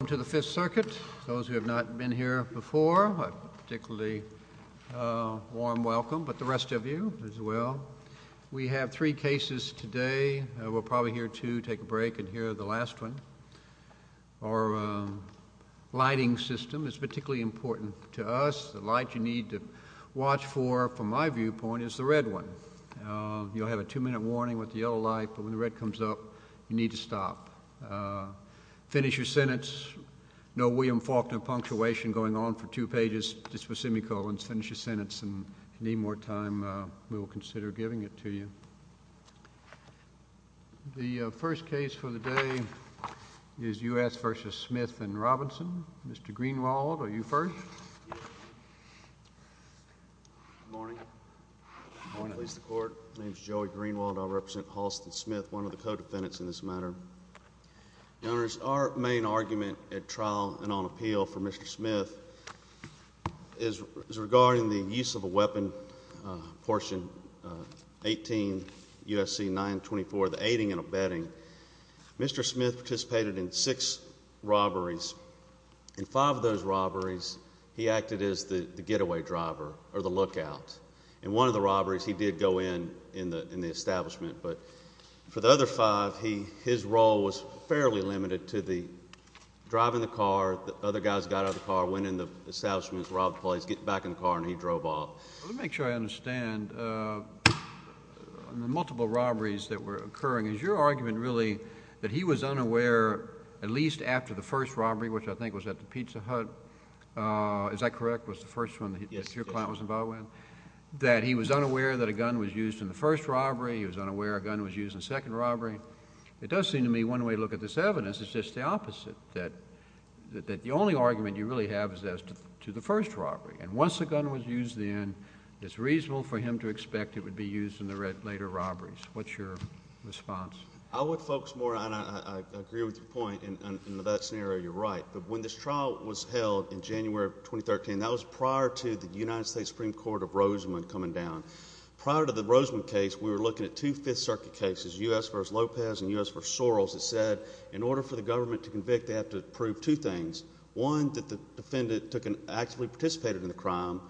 Welcome to the Fifth Circuit. Those who have not been here before, a particularly warm welcome, but the rest of you as well. We have three cases today. We're probably here to take a break and hear the last one. Our lighting system is particularly important to us. The light you need to watch for, from my viewpoint, is the red one. You'll have a two-minute warning with the yellow light, but when the red comes up, you need to stop. Finish your sentence. No William Faulkner punctuation going on for two pages, just for semicolons. Finish your sentence. If you need more time, we will consider giving it to you. The first case for the day is U.S. v. Smith v. Robinson. Mr. Greenwald, are you first? Good morning. My name is Joey Greenwald. I represent Halston Smith, one of the co-defendants in this matter. Your Honors, our main argument at trial and on appeal for Mr. Smith is regarding the use of a weapon, portion 18 U.S.C. 924, the aiding and abetting. Mr. Smith participated in six robberies. In five of those robberies, he acted as the getaway driver or the lookout. In one of the robberies, he did go in the establishment, but for the other five, his role was fairly limited to driving the car. The other guys got out of the car, went in the establishment, robbed the place, got back in the car, and he drove off. Let me make sure I understand the multiple robberies that were occurring. Is your argument really that he was unaware, at least after the first robbery, which I think was at the Pizza Hut, is that correct? Was the first one that your client was involved with? Yes. That he was unaware that a gun was used in the first robbery? He was unaware a gun was used in the second robbery? It does seem to me one way to look at this evidence is just the opposite, that the only argument you really have is as to the first robbery. And once a gun was used then, it's reasonable for him to expect it would be used in the later robberies. What's your response? I would focus more, and I agree with your point in that scenario. You're right. But when this trial was held in January of 2013, that was prior to the United States Supreme Court of Rosamond coming down. Prior to the Rosamond case, we were looking at two Fifth Circuit cases, U.S. v. Lopez and U.S. v. Soros, that said in order for the government to convict, they have to prove two things. One, that the defendant actually participated in the crime.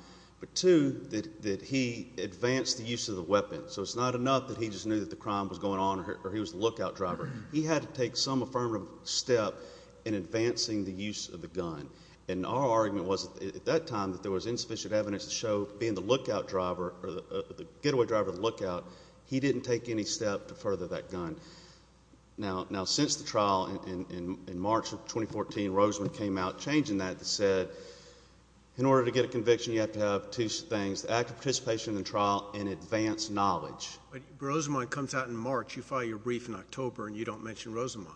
But two, that he advanced the use of the weapon. So it's not enough that he just knew that the crime was going on or he was the lookout driver. He had to take some affirmative step in advancing the use of the gun. And our argument was at that time that there was insufficient evidence to show being the getaway driver of the lookout, he didn't take any step to further that gun. Now since the trial in March of 2014, Rosamond came out changing that and said in order to get a conviction, you have to have two things, active participation in the trial and advanced knowledge. But Rosamond comes out in March. You file your brief in October and you don't mention Rosamond.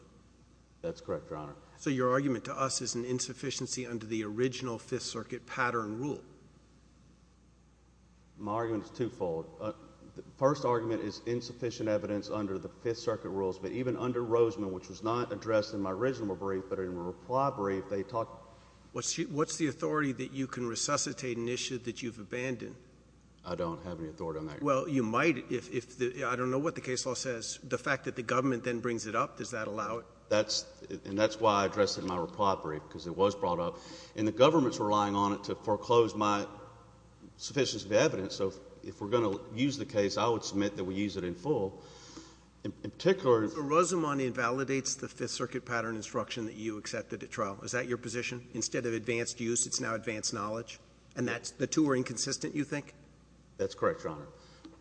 That's correct, Your Honor. So your argument to us is an insufficiency under the original Fifth Circuit pattern rule. My argument is twofold. The first argument is insufficient evidence under the Fifth Circuit rules. But even under Rosamond, which was not addressed in my original brief, but in my reply brief, they talked— What's the authority that you can resuscitate an issue that you've abandoned? I don't have any authority on that, Your Honor. Well, you might if—I don't know what the case law says. The fact that the government then brings it up, does that allow it? And that's why I addressed it in my reply brief because it was brought up. And the government's relying on it to foreclose my sufficiency of evidence. So if we're going to use the case, I would submit that we use it in full. In particular— So Rosamond invalidates the Fifth Circuit pattern instruction that you accepted at trial. Is that your position? Instead of advanced use, it's now advanced knowledge? And that's—the two are inconsistent, you think? That's correct, Your Honor.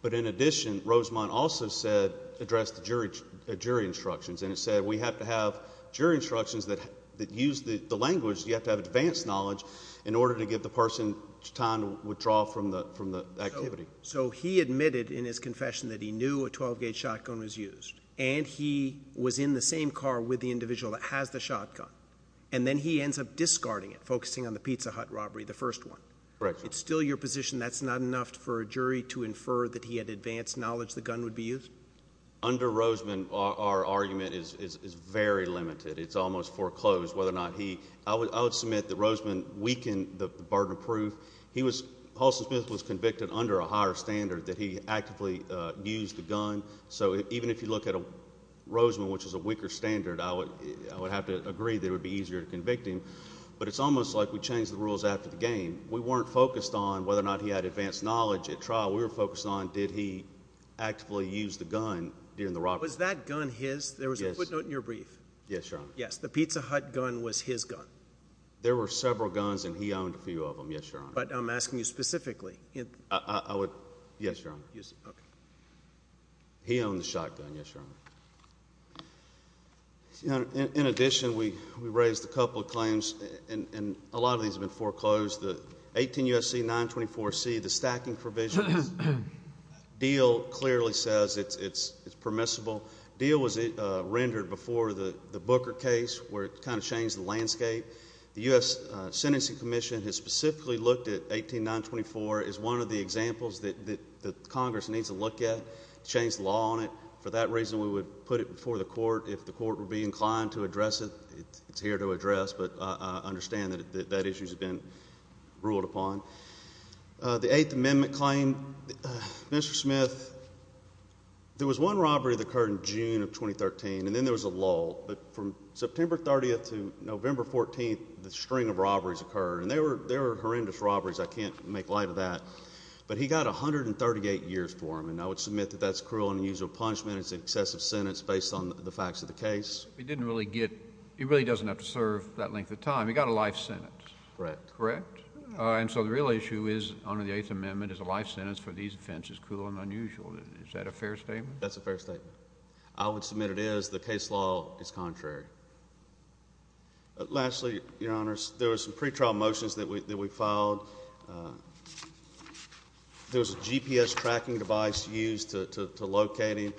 But in addition, Rosamond also said—addressed the jury instructions. And it said we have to have jury instructions that use the language. You have to have advanced knowledge in order to give the person time to withdraw from the activity. So he admitted in his confession that he knew a 12-gauge shotgun was used. And he was in the same car with the individual that has the shotgun. And then he ends up discarding it, focusing on the Pizza Hut robbery, the first one. Correct, Your Honor. It's still your position that's not enough for a jury to infer that he had advanced knowledge the gun would be used? Under Rosamond, our argument is very limited. It's almost foreclosed whether or not he—I would submit that Rosamond weakened the burden of proof. He was—Holson Smith was convicted under a higher standard that he actively used a gun. So even if you look at Rosamond, which is a weaker standard, I would have to agree that it would be easier to convict him. But it's almost like we changed the rules after the game. We weren't focused on whether or not he had advanced knowledge at trial. We were focused on did he actively use the gun during the robbery. Was that gun his? Yes. There was a footnote in your brief. Yes, Your Honor. Yes, the Pizza Hut gun was his gun. There were several guns, and he owned a few of them, yes, Your Honor. But I'm asking you specifically. I would—yes, Your Honor. Okay. He owned the shotgun, yes, Your Honor. In addition, we raised a couple of claims, and a lot of these have been foreclosed. The 18 U.S.C. 924C, the stacking provisions deal clearly says it's permissible. The deal was rendered before the Booker case where it kind of changed the landscape. The U.S. Sentencing Commission has specifically looked at 18 924 as one of the examples that Congress needs to look at, change the law on it. For that reason, we would put it before the court. If the court would be inclined to address it, it's here to address. But I understand that that issue has been ruled upon. The Eighth Amendment claim. Mr. Smith, there was one robbery that occurred in June of 2013, and then there was a lull. But from September 30th to November 14th, the string of robberies occurred. And they were horrendous robberies. I can't make light of that. But he got 138 years for them, and I would submit that that's cruel and unusual punishment. It's an excessive sentence based on the facts of the case. He really doesn't have to serve that length of time. He got a life sentence. Correct. Correct? And so the real issue is under the Eighth Amendment is a life sentence for these offenses, cruel and unusual. Is that a fair statement? That's a fair statement. I would submit it is. The case law is contrary. Lastly, Your Honors, there were some pretrial motions that we filed. There was a GPS tracking device used to locate him.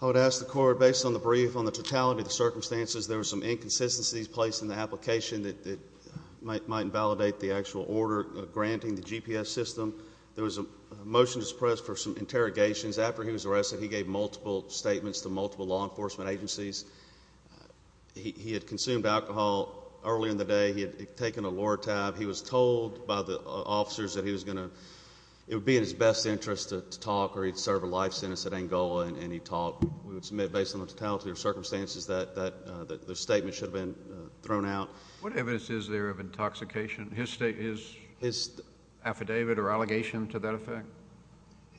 I would ask the Court, based on the brief, on the totality of the circumstances, there were some inconsistencies placed in the application that might invalidate the actual order granting the GPS system. There was a motion to suppress for some interrogations. After he was arrested, he gave multiple statements to multiple law enforcement agencies. He had consumed alcohol earlier in the day. He had taken a Lortab. He was told by the officers that it would be in his best interest to talk or he'd serve a life sentence at Angola, and he talked. We would submit, based on the totality of circumstances, that the statement should have been thrown out. What evidence is there of intoxication? His affidavit or allegation to that effect?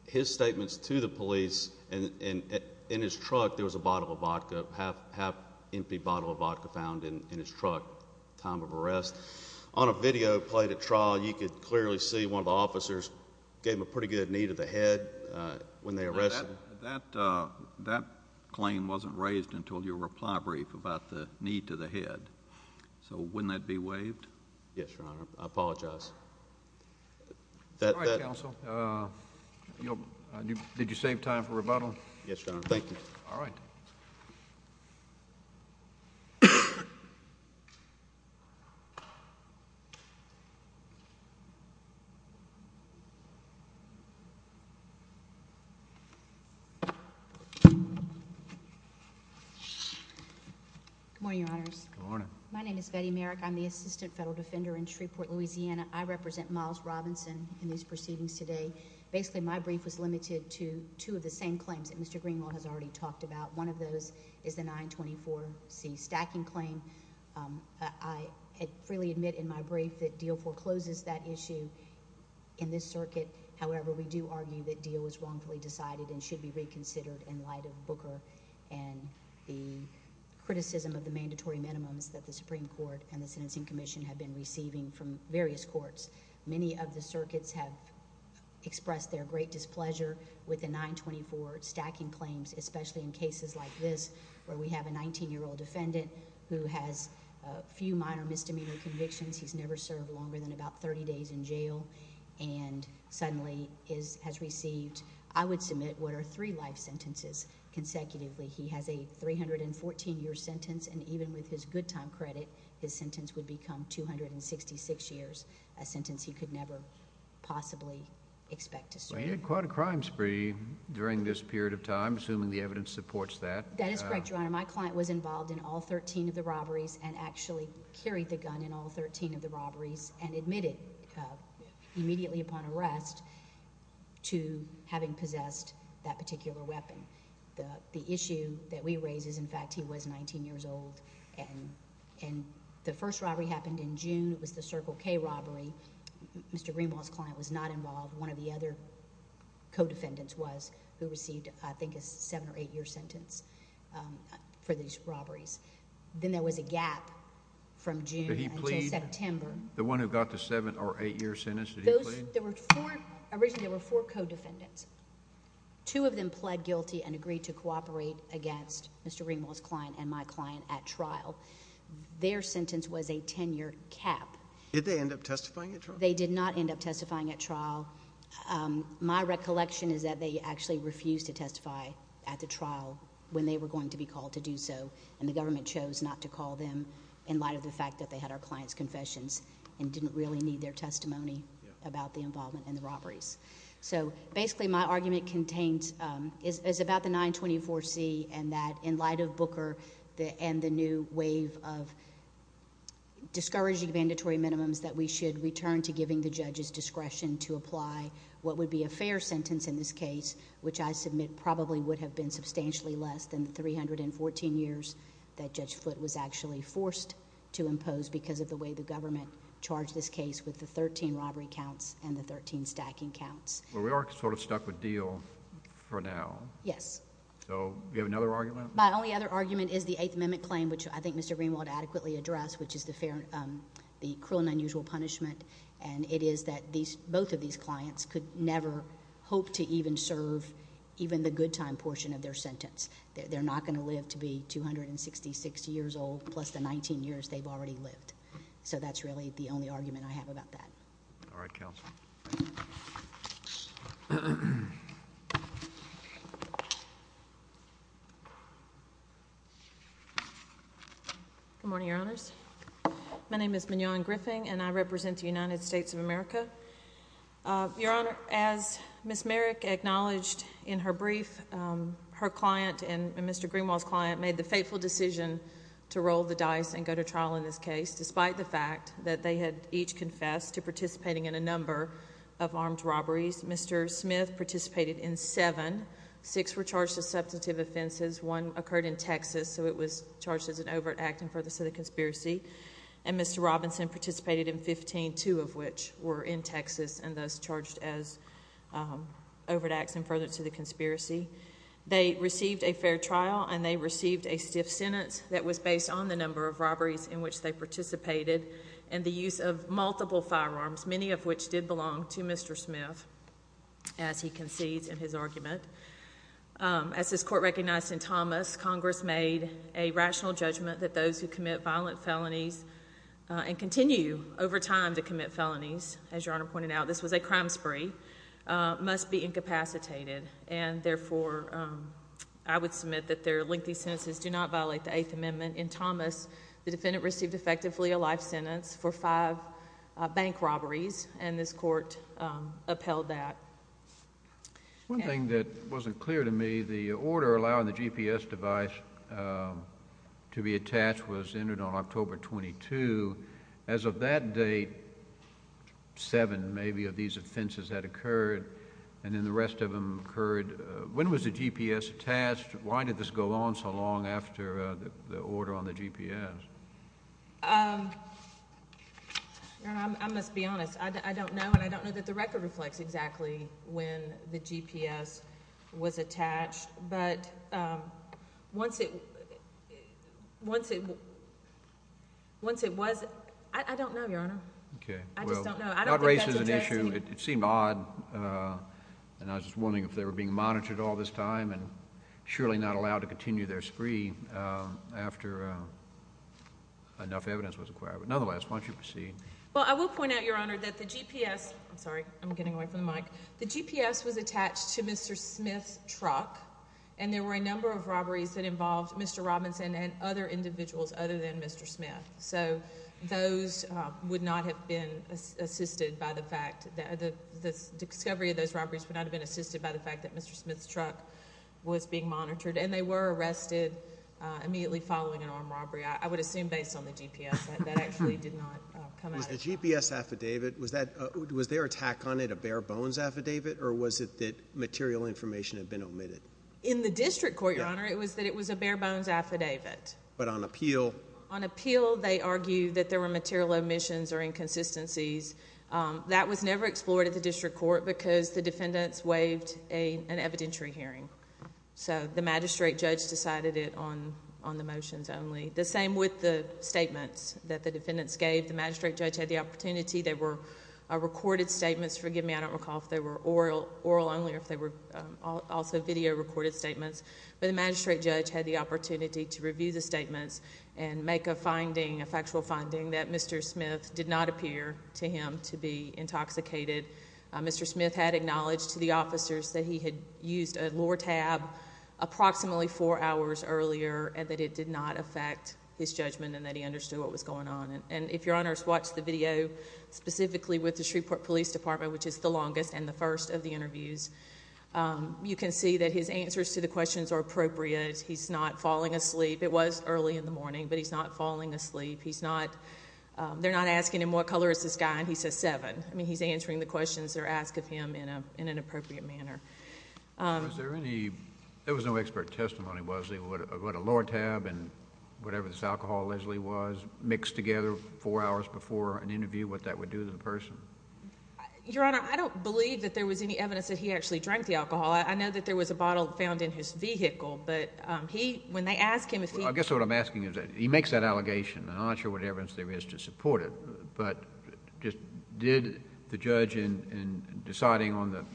His statements to the police, and in his truck there was a bottle of vodka, a half-empty bottle of vodka found in his truck at the time of arrest. On a video played at trial, you could clearly see one of the officers gave him a pretty good knee to the head. When they arrested him. That claim wasn't raised until your reply brief about the knee to the head, so wouldn't that be waived? Yes, Your Honor. I apologize. All right, counsel. Did you save time for rebuttal? Yes, Your Honor. Thank you. All right. Good morning, Your Honors. Good morning. My name is Betty Merrick. I'm the Assistant Federal Defender in Shreveport, Louisiana. I represent Miles Robinson in these proceedings today. Basically, my brief was limited to two of the same claims that Mr. Greenwell has already talked about. One of those is the 924C stacking claim. I freely admit in my brief that Deal forecloses that issue in this circuit. However, we do argue that Deal was wrongfully decided and should be reconsidered in light of Booker and the criticism of the mandatory minimums that the Supreme Court and the Sentencing Commission have been receiving from various courts. Many of the circuits have expressed their great displeasure with the 924 stacking claims, especially in cases like this where we have a 19-year-old defendant who has a few minor misdemeanor convictions. He's never served longer than about 30 days in jail and suddenly has received, I would submit, what are three life sentences consecutively. He has a 314-year sentence, and even with his good time credit, his sentence would become 266 years, a sentence he could never possibly expect to serve. He had quite a crime spree during this period of time, assuming the evidence supports that. That is correct, Your Honor. My client was involved in all 13 of the robberies and actually carried the gun in all 13 of the robberies and admitted immediately upon arrest to having possessed that particular weapon. The issue that we raise is, in fact, he was 19 years old, and the first robbery happened in June. It was the Circle K robbery. Mr. Greenwald's client was not involved. One of the other co-defendants was who received, I think, a seven- or eight-year sentence for these robberies. Then there was a gap from June until September. Did he plead? The one who got the seven- or eight-year sentence, did he plead? Originally, there were four co-defendants. Two of them pled guilty and agreed to cooperate against Mr. Greenwald's client and my client at trial. Their sentence was a ten-year cap. Did they end up testifying at trial? They did not end up testifying at trial. My recollection is that they actually refused to testify at the trial when they were going to be called to do so, and the government chose not to call them in light of the fact that they had our client's confessions and didn't really need their testimony about the involvement in the robberies. Basically, my argument contains... is about the 924C and that in light of Booker and the new wave of discouraging mandatory minimums that we should return to giving the judge's discretion to apply what would be a fair sentence in this case, which I submit probably would have been substantially less than the 314 years that Judge Foote was actually forced to impose because of the way the government charged this case with the 13 robbery counts and the 13 stacking counts. We are sort of stuck with Deal for now. Yes. Do you have another argument? My only other argument is the Eighth Amendment claim, which I think Mr. Greenwald adequately addressed, which is the cruel and unusual punishment, and it is that both of these clients could never hope to even serve even the good time portion of their sentence. They're not going to live to be 266 years old plus the 19 years they've already lived. So that's really the only argument I have about that. All right, counsel. Good morning, Your Honors. My name is Mignon Griffin, and I represent the United States of America. Your Honor, as Ms. Merrick acknowledged in her brief, her client and Mr. Greenwald's client made the fateful decision to roll the dice and go to trial in this case despite the fact that they had each confessed to participating in a number of armed robberies. Mr. Smith participated in seven. Six were charged as substantive offenses. One occurred in Texas, so it was charged as an overt act in furtherance of the conspiracy, and Mr. Robinson participated in 15, two of which were in Texas and thus charged as overt acts in furtherance of the conspiracy. They received a fair trial, and they received a stiff sentence that was based on the number of robberies in which they participated and the use of multiple firearms, many of which did belong to Mr. Smith, as he concedes in his argument. As this court recognized in Thomas, Congress made a rational judgment that those who commit violent felonies and continue over time to commit felonies, as Your Honor pointed out, this was a crime spree, must be incapacitated, and therefore I would submit that their lengthy sentences do not violate the Eighth Amendment. In Thomas, the defendant received effectively a life sentence for five bank robberies, and this court upheld that. One thing that wasn't clear to me, the order allowing the GPS device to be attached was entered on October 22. As of that date, seven maybe of these offenses had occurred, and then the rest of them occurred. When was the GPS attached? Why did this go on so long after the order on the GPS? Your Honor, I must be honest. I don't know, and I don't know that the record reflects exactly when the GPS was attached, but once it was, I don't know, Your Honor. Okay. I just don't know. Well, not race is an issue. It seemed odd, and I was just wondering if they were being monitored all this time and surely not allowed to continue their spree after enough evidence was acquired. But nonetheless, why don't you proceed? Well, I will point out, Your Honor, that the GPS, I'm sorry, I'm getting away from the mic. The GPS was attached to Mr. Smith's truck, and there were a number of robberies that involved Mr. Robinson and other individuals other than Mr. Smith. So those would not have been assisted by the fact that the discovery of those robberies would not have been assisted by the fact that Mr. Smith's truck was being monitored, and they were arrested immediately following an armed robbery, I would assume based on the GPS. That actually did not come out. The GPS affidavit, was their attack on it a bare-bones affidavit, or was it that material information had been omitted? In the district court, Your Honor, it was that it was a bare-bones affidavit. But on appeal? On appeal, they argued that there were material omissions or inconsistencies. That was never explored at the district court because the defendants waived an evidentiary hearing. So the magistrate judge decided it on the motions only. The same with the statements that the defendants gave. The magistrate judge had the opportunity. They were recorded statements. Forgive me, I don't recall if they were oral only or if they were also video-recorded statements. But the magistrate judge had the opportunity to review the statements and make a finding, a factual finding, that Mr. Smith did not appear to him to be intoxicated. Mr. Smith had acknowledged to the officers that he had used a lure tab approximately four hours earlier and that it did not affect his judgment and that he understood what was going on. And if Your Honors watch the video specifically with the Shreveport Police Department, which is the longest and the first of the interviews, you can see that his answers to the questions are appropriate. He's not falling asleep. It was early in the morning, but he's not falling asleep. They're not asking him what color is this guy, and he says seven. I mean he's answering the questions that are asked of him in an appropriate manner. Was there any—there was no expert testimony, was there, about a lure tab and whatever this alcohol allegedly was mixed together four hours before an interview, what that would do to the person? Your Honor, I don't believe that there was any evidence that he actually drank the alcohol. I know that there was a bottle found in his vehicle, but he—when they ask him if he— Well, I guess what I'm asking is that he makes that allegation, and I'm not sure what evidence there is to support it, but just did the judge in deciding on the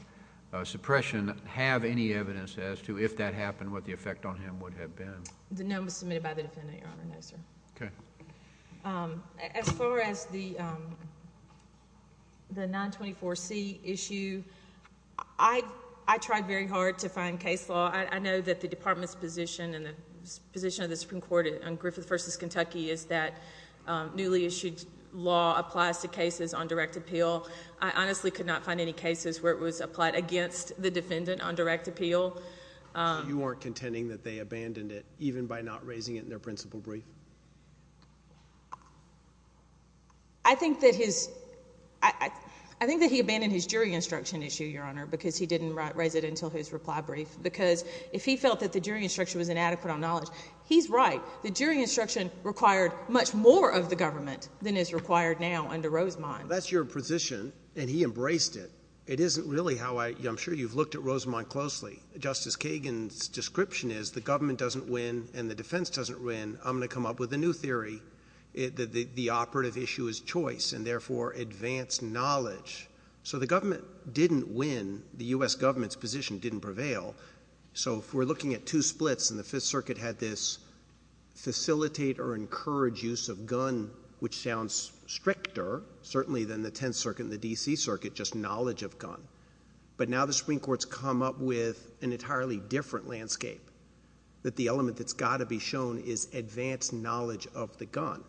suppression have any evidence as to if that happened, what the effect on him would have been? No, it was submitted by the defendant, Your Honor. No, sir. Okay. As far as the 924C issue, I tried very hard to find case law. I know that the Department's position and the position of the Supreme Court on Griffith v. Kentucky is that newly issued law applies to cases on direct appeal. I honestly could not find any cases where it was applied against the defendant on direct appeal. So you weren't contending that they abandoned it even by not raising it in their principal brief? I think that his—I think that he abandoned his jury instruction issue, Your Honor, because he didn't raise it until his reply brief, because if he felt that the jury instruction was inadequate on knowledge, he's right. The jury instruction required much more of the government than is required now under Rosemond. Well, that's your position, and he embraced it. It isn't really how I—I'm sure you've looked at Rosemond closely. Justice Kagan's description is the government doesn't win and the defense doesn't win. I'm going to come up with a new theory that the operative issue is choice and therefore advanced knowledge. So the government didn't win. The U.S. government's position didn't prevail. So if we're looking at two splits and the Fifth Circuit had this facilitate or encourage use of gun, which sounds stricter certainly than the Tenth Circuit and the D.C. Circuit, just knowledge of gun, but now the Supreme Court's come up with an entirely different landscape, that the element that's got to be shown is advanced knowledge of the gun.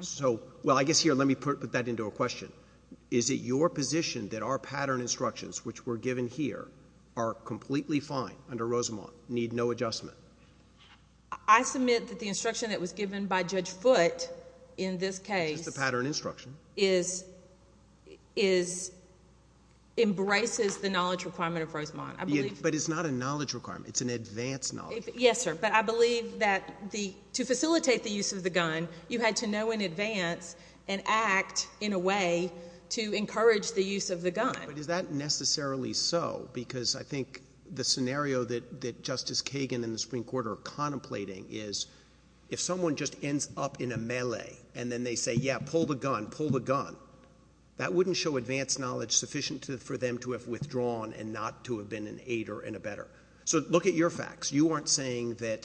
So, well, I guess here let me put that into a question. Is it your position that our pattern instructions, which were given here, are completely fine under Rosemond, need no adjustment? I submit that the instruction that was given by Judge Foote in this case— It's just a pattern instruction. —embraces the knowledge requirement of Rosemond. But it's not a knowledge requirement. It's an advanced knowledge. Yes, sir. But I believe that to facilitate the use of the gun, you had to know in advance and act in a way to encourage the use of the gun. But is that necessarily so? Because I think the scenario that Justice Kagan and the Supreme Court are contemplating is if someone just ends up in a melee and then they say, yeah, pull the gun, pull the gun, that wouldn't show advanced knowledge sufficient for them to have withdrawn and not to have been an aider and a better. So look at your facts. You aren't saying that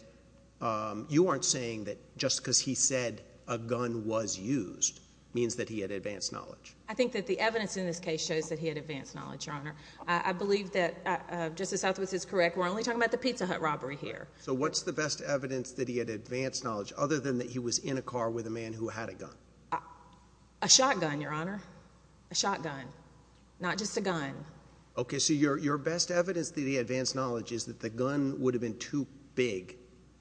just because he said a gun was used means that he had advanced knowledge. I think that the evidence in this case shows that he had advanced knowledge, Your Honor. I believe that Justice Southwest is correct. We're only talking about the Pizza Hut robbery here. So what's the best evidence that he had advanced knowledge other than that he was in a car with a man who had a gun? A shotgun, Your Honor. A shotgun. Not just a gun. Okay. So your best evidence that he advanced knowledge is that the gun would have been too big.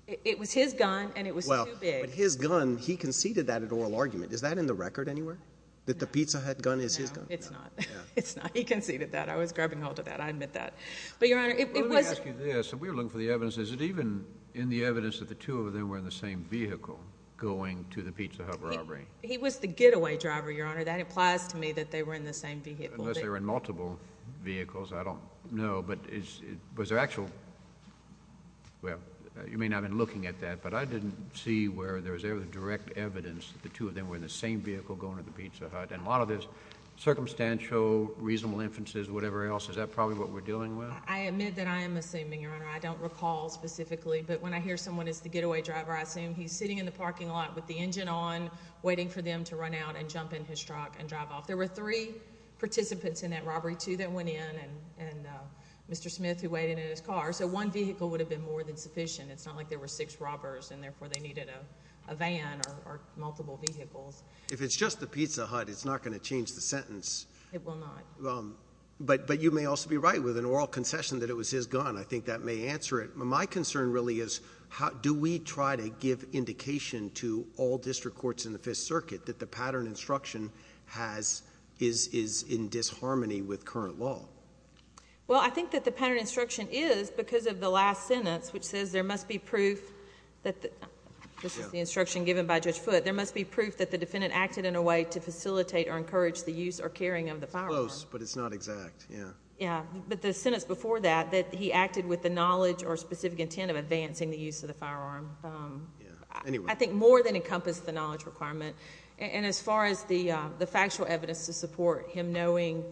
It was his gun and it was too big. Well, but his gun, he conceded that at oral argument. Is that in the record anywhere, that the Pizza Hut gun is his gun? No, it's not. It's not. He conceded that. I was grabbing hold of that. I admit that. But, Your Honor, it was – Let me ask you this. If we were looking for the evidence, is it even in the evidence that the two of them were in the same vehicle going to the Pizza Hut robbery? He was the getaway driver, Your Honor. That implies to me that they were in the same vehicle. Unless they were in multiple vehicles, I don't know. But was there actual – well, you may not have been looking at that, but I didn't see where there was any direct evidence that the two of them were in the same vehicle going to the Pizza Hut. And a lot of this circumstantial, reasonable inferences, whatever else, is that probably what we're dealing with? I admit that I am assuming, Your Honor. I don't recall specifically, but when I hear someone is the getaway driver, I assume he's sitting in the parking lot with the engine on, waiting for them to run out and jump in his truck and drive off. There were three participants in that robbery, two that went in, and Mr. Smith, who waited in his car. So one vehicle would have been more than sufficient. It's not like there were six robbers, and therefore they needed a van or multiple vehicles. If it's just the Pizza Hut, it's not going to change the sentence. It will not. But you may also be right with an oral concession that it was his gun. I think that may answer it. My concern really is do we try to give indication to all district courts in the Fifth Circuit that the pattern instruction is in disharmony with current law? Well, I think that the pattern instruction is because of the last sentence, which says there must be proof that... This is the instruction given by Judge Foote. There must be proof that the defendant acted in a way to facilitate or encourage the use or carrying of the firearm. It's close, but it's not exact. But the sentence before that, that he acted with the knowledge or specific intent of advancing the use of the firearm, I think more than encompassed the knowledge requirement. And as far as the factual evidence to support him knowing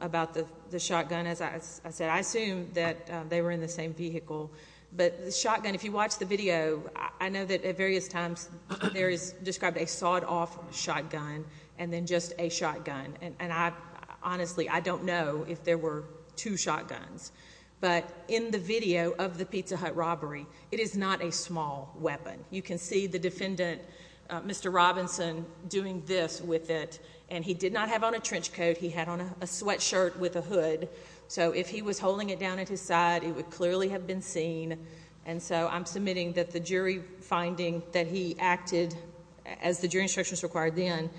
about the shotgun, as I said, I assume that they were in the same vehicle. But the shotgun, if you watch the video, I know that at various times there is described a sawed-off shotgun and then just a shotgun. And honestly, I don't know if there were two shotguns. But in the video of the Pizza Hut robbery, it is not a small weapon. You can see the defendant, Mr. Robinson, doing this with it. And he did not have on a trench coat. He had on a sweatshirt with a hood. So if he was holding it down at his side, it would clearly have been seen. And so I'm submitting that the jury finding that he acted as the jury instructions required then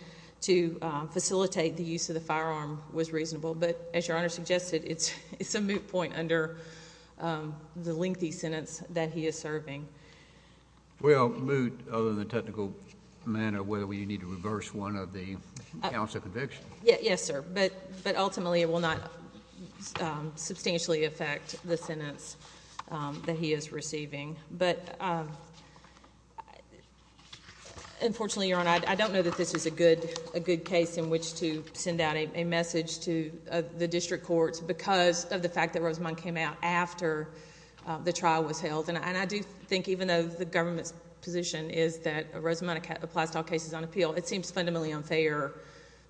to facilitate the use of the firearm was reasonable. But as Your Honor suggested, it's a moot point under the lengthy sentence that he is serving. Well, moot other than the technical manner where you need to reverse one of the counts of conviction. Yes, sir. But ultimately it will not substantially affect the sentence that he is receiving. But unfortunately, Your Honor, I don't know that this is a good case in which to send out a message to the district courts because of the fact that Rosamond came out after the trial was held. And I do think even though the government's position is that Rosamond applies to all cases on appeal, it seems fundamentally unfair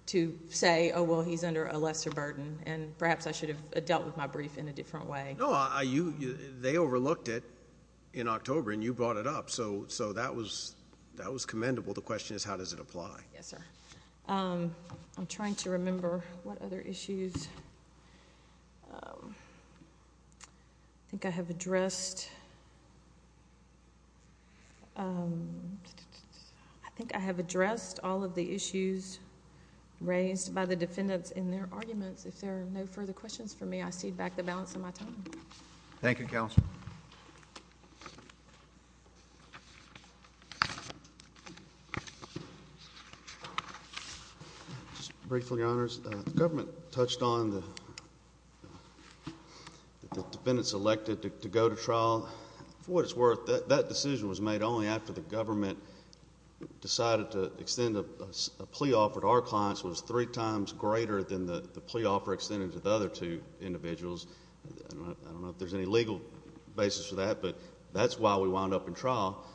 to say, oh, well, he's under a lesser burden, and perhaps I should have dealt with my brief in a different way. No, they overlooked it in October, and you brought it up. So that was commendable. The question is how does it apply. Yes, sir. I'm trying to remember what other issues. I think I have addressed... I think I have addressed all of the issues raised by the defendants in their arguments. If there are no further questions for me, I cede back the balance of my time. Thank you, Counselor. Just briefly, Your Honors, the government touched on the defendants elected to go to trial. For what it's worth, that decision was made only after the government decided to extend a plea offer to our clients that was three times greater than the plea offer extended to the other two individuals. I don't know if there's any legal basis for that, but that's why we wound up in trial.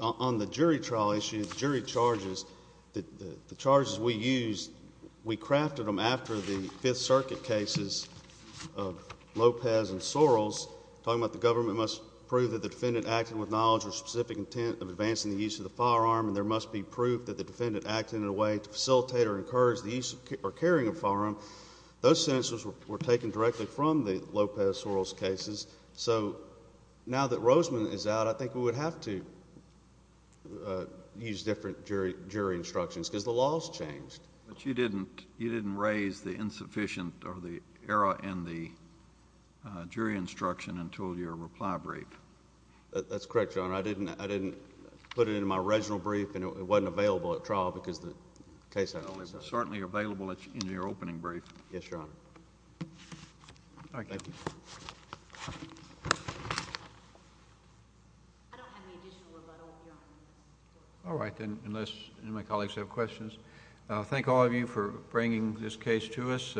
On the jury trial issue, the jury charges, the charges we used, we crafted them after the Fifth Circuit cases of Lopez and Soros. Talking about the government must prove that the defendant acted with knowledge or specific intent of advancing the use of the firearm, and there must be proof that the defendant acted in a way to facilitate or encourage the use or carrying of a firearm. Those sentences were taken directly from the Lopez-Soros cases, so now that Roseman is out, I think we would have to use different jury instructions, because the law has changed. But you didn't raise the insufficient or the error in the jury instruction until your reply brief. That's correct, Your Honor. I didn't put it in my original brief, and it wasn't available at trial because the case had... It's certainly available in your opening brief. Yes, Your Honor. Thank you. All right, then, unless any of my colleagues have questions. I thank all of you for bringing this case to us.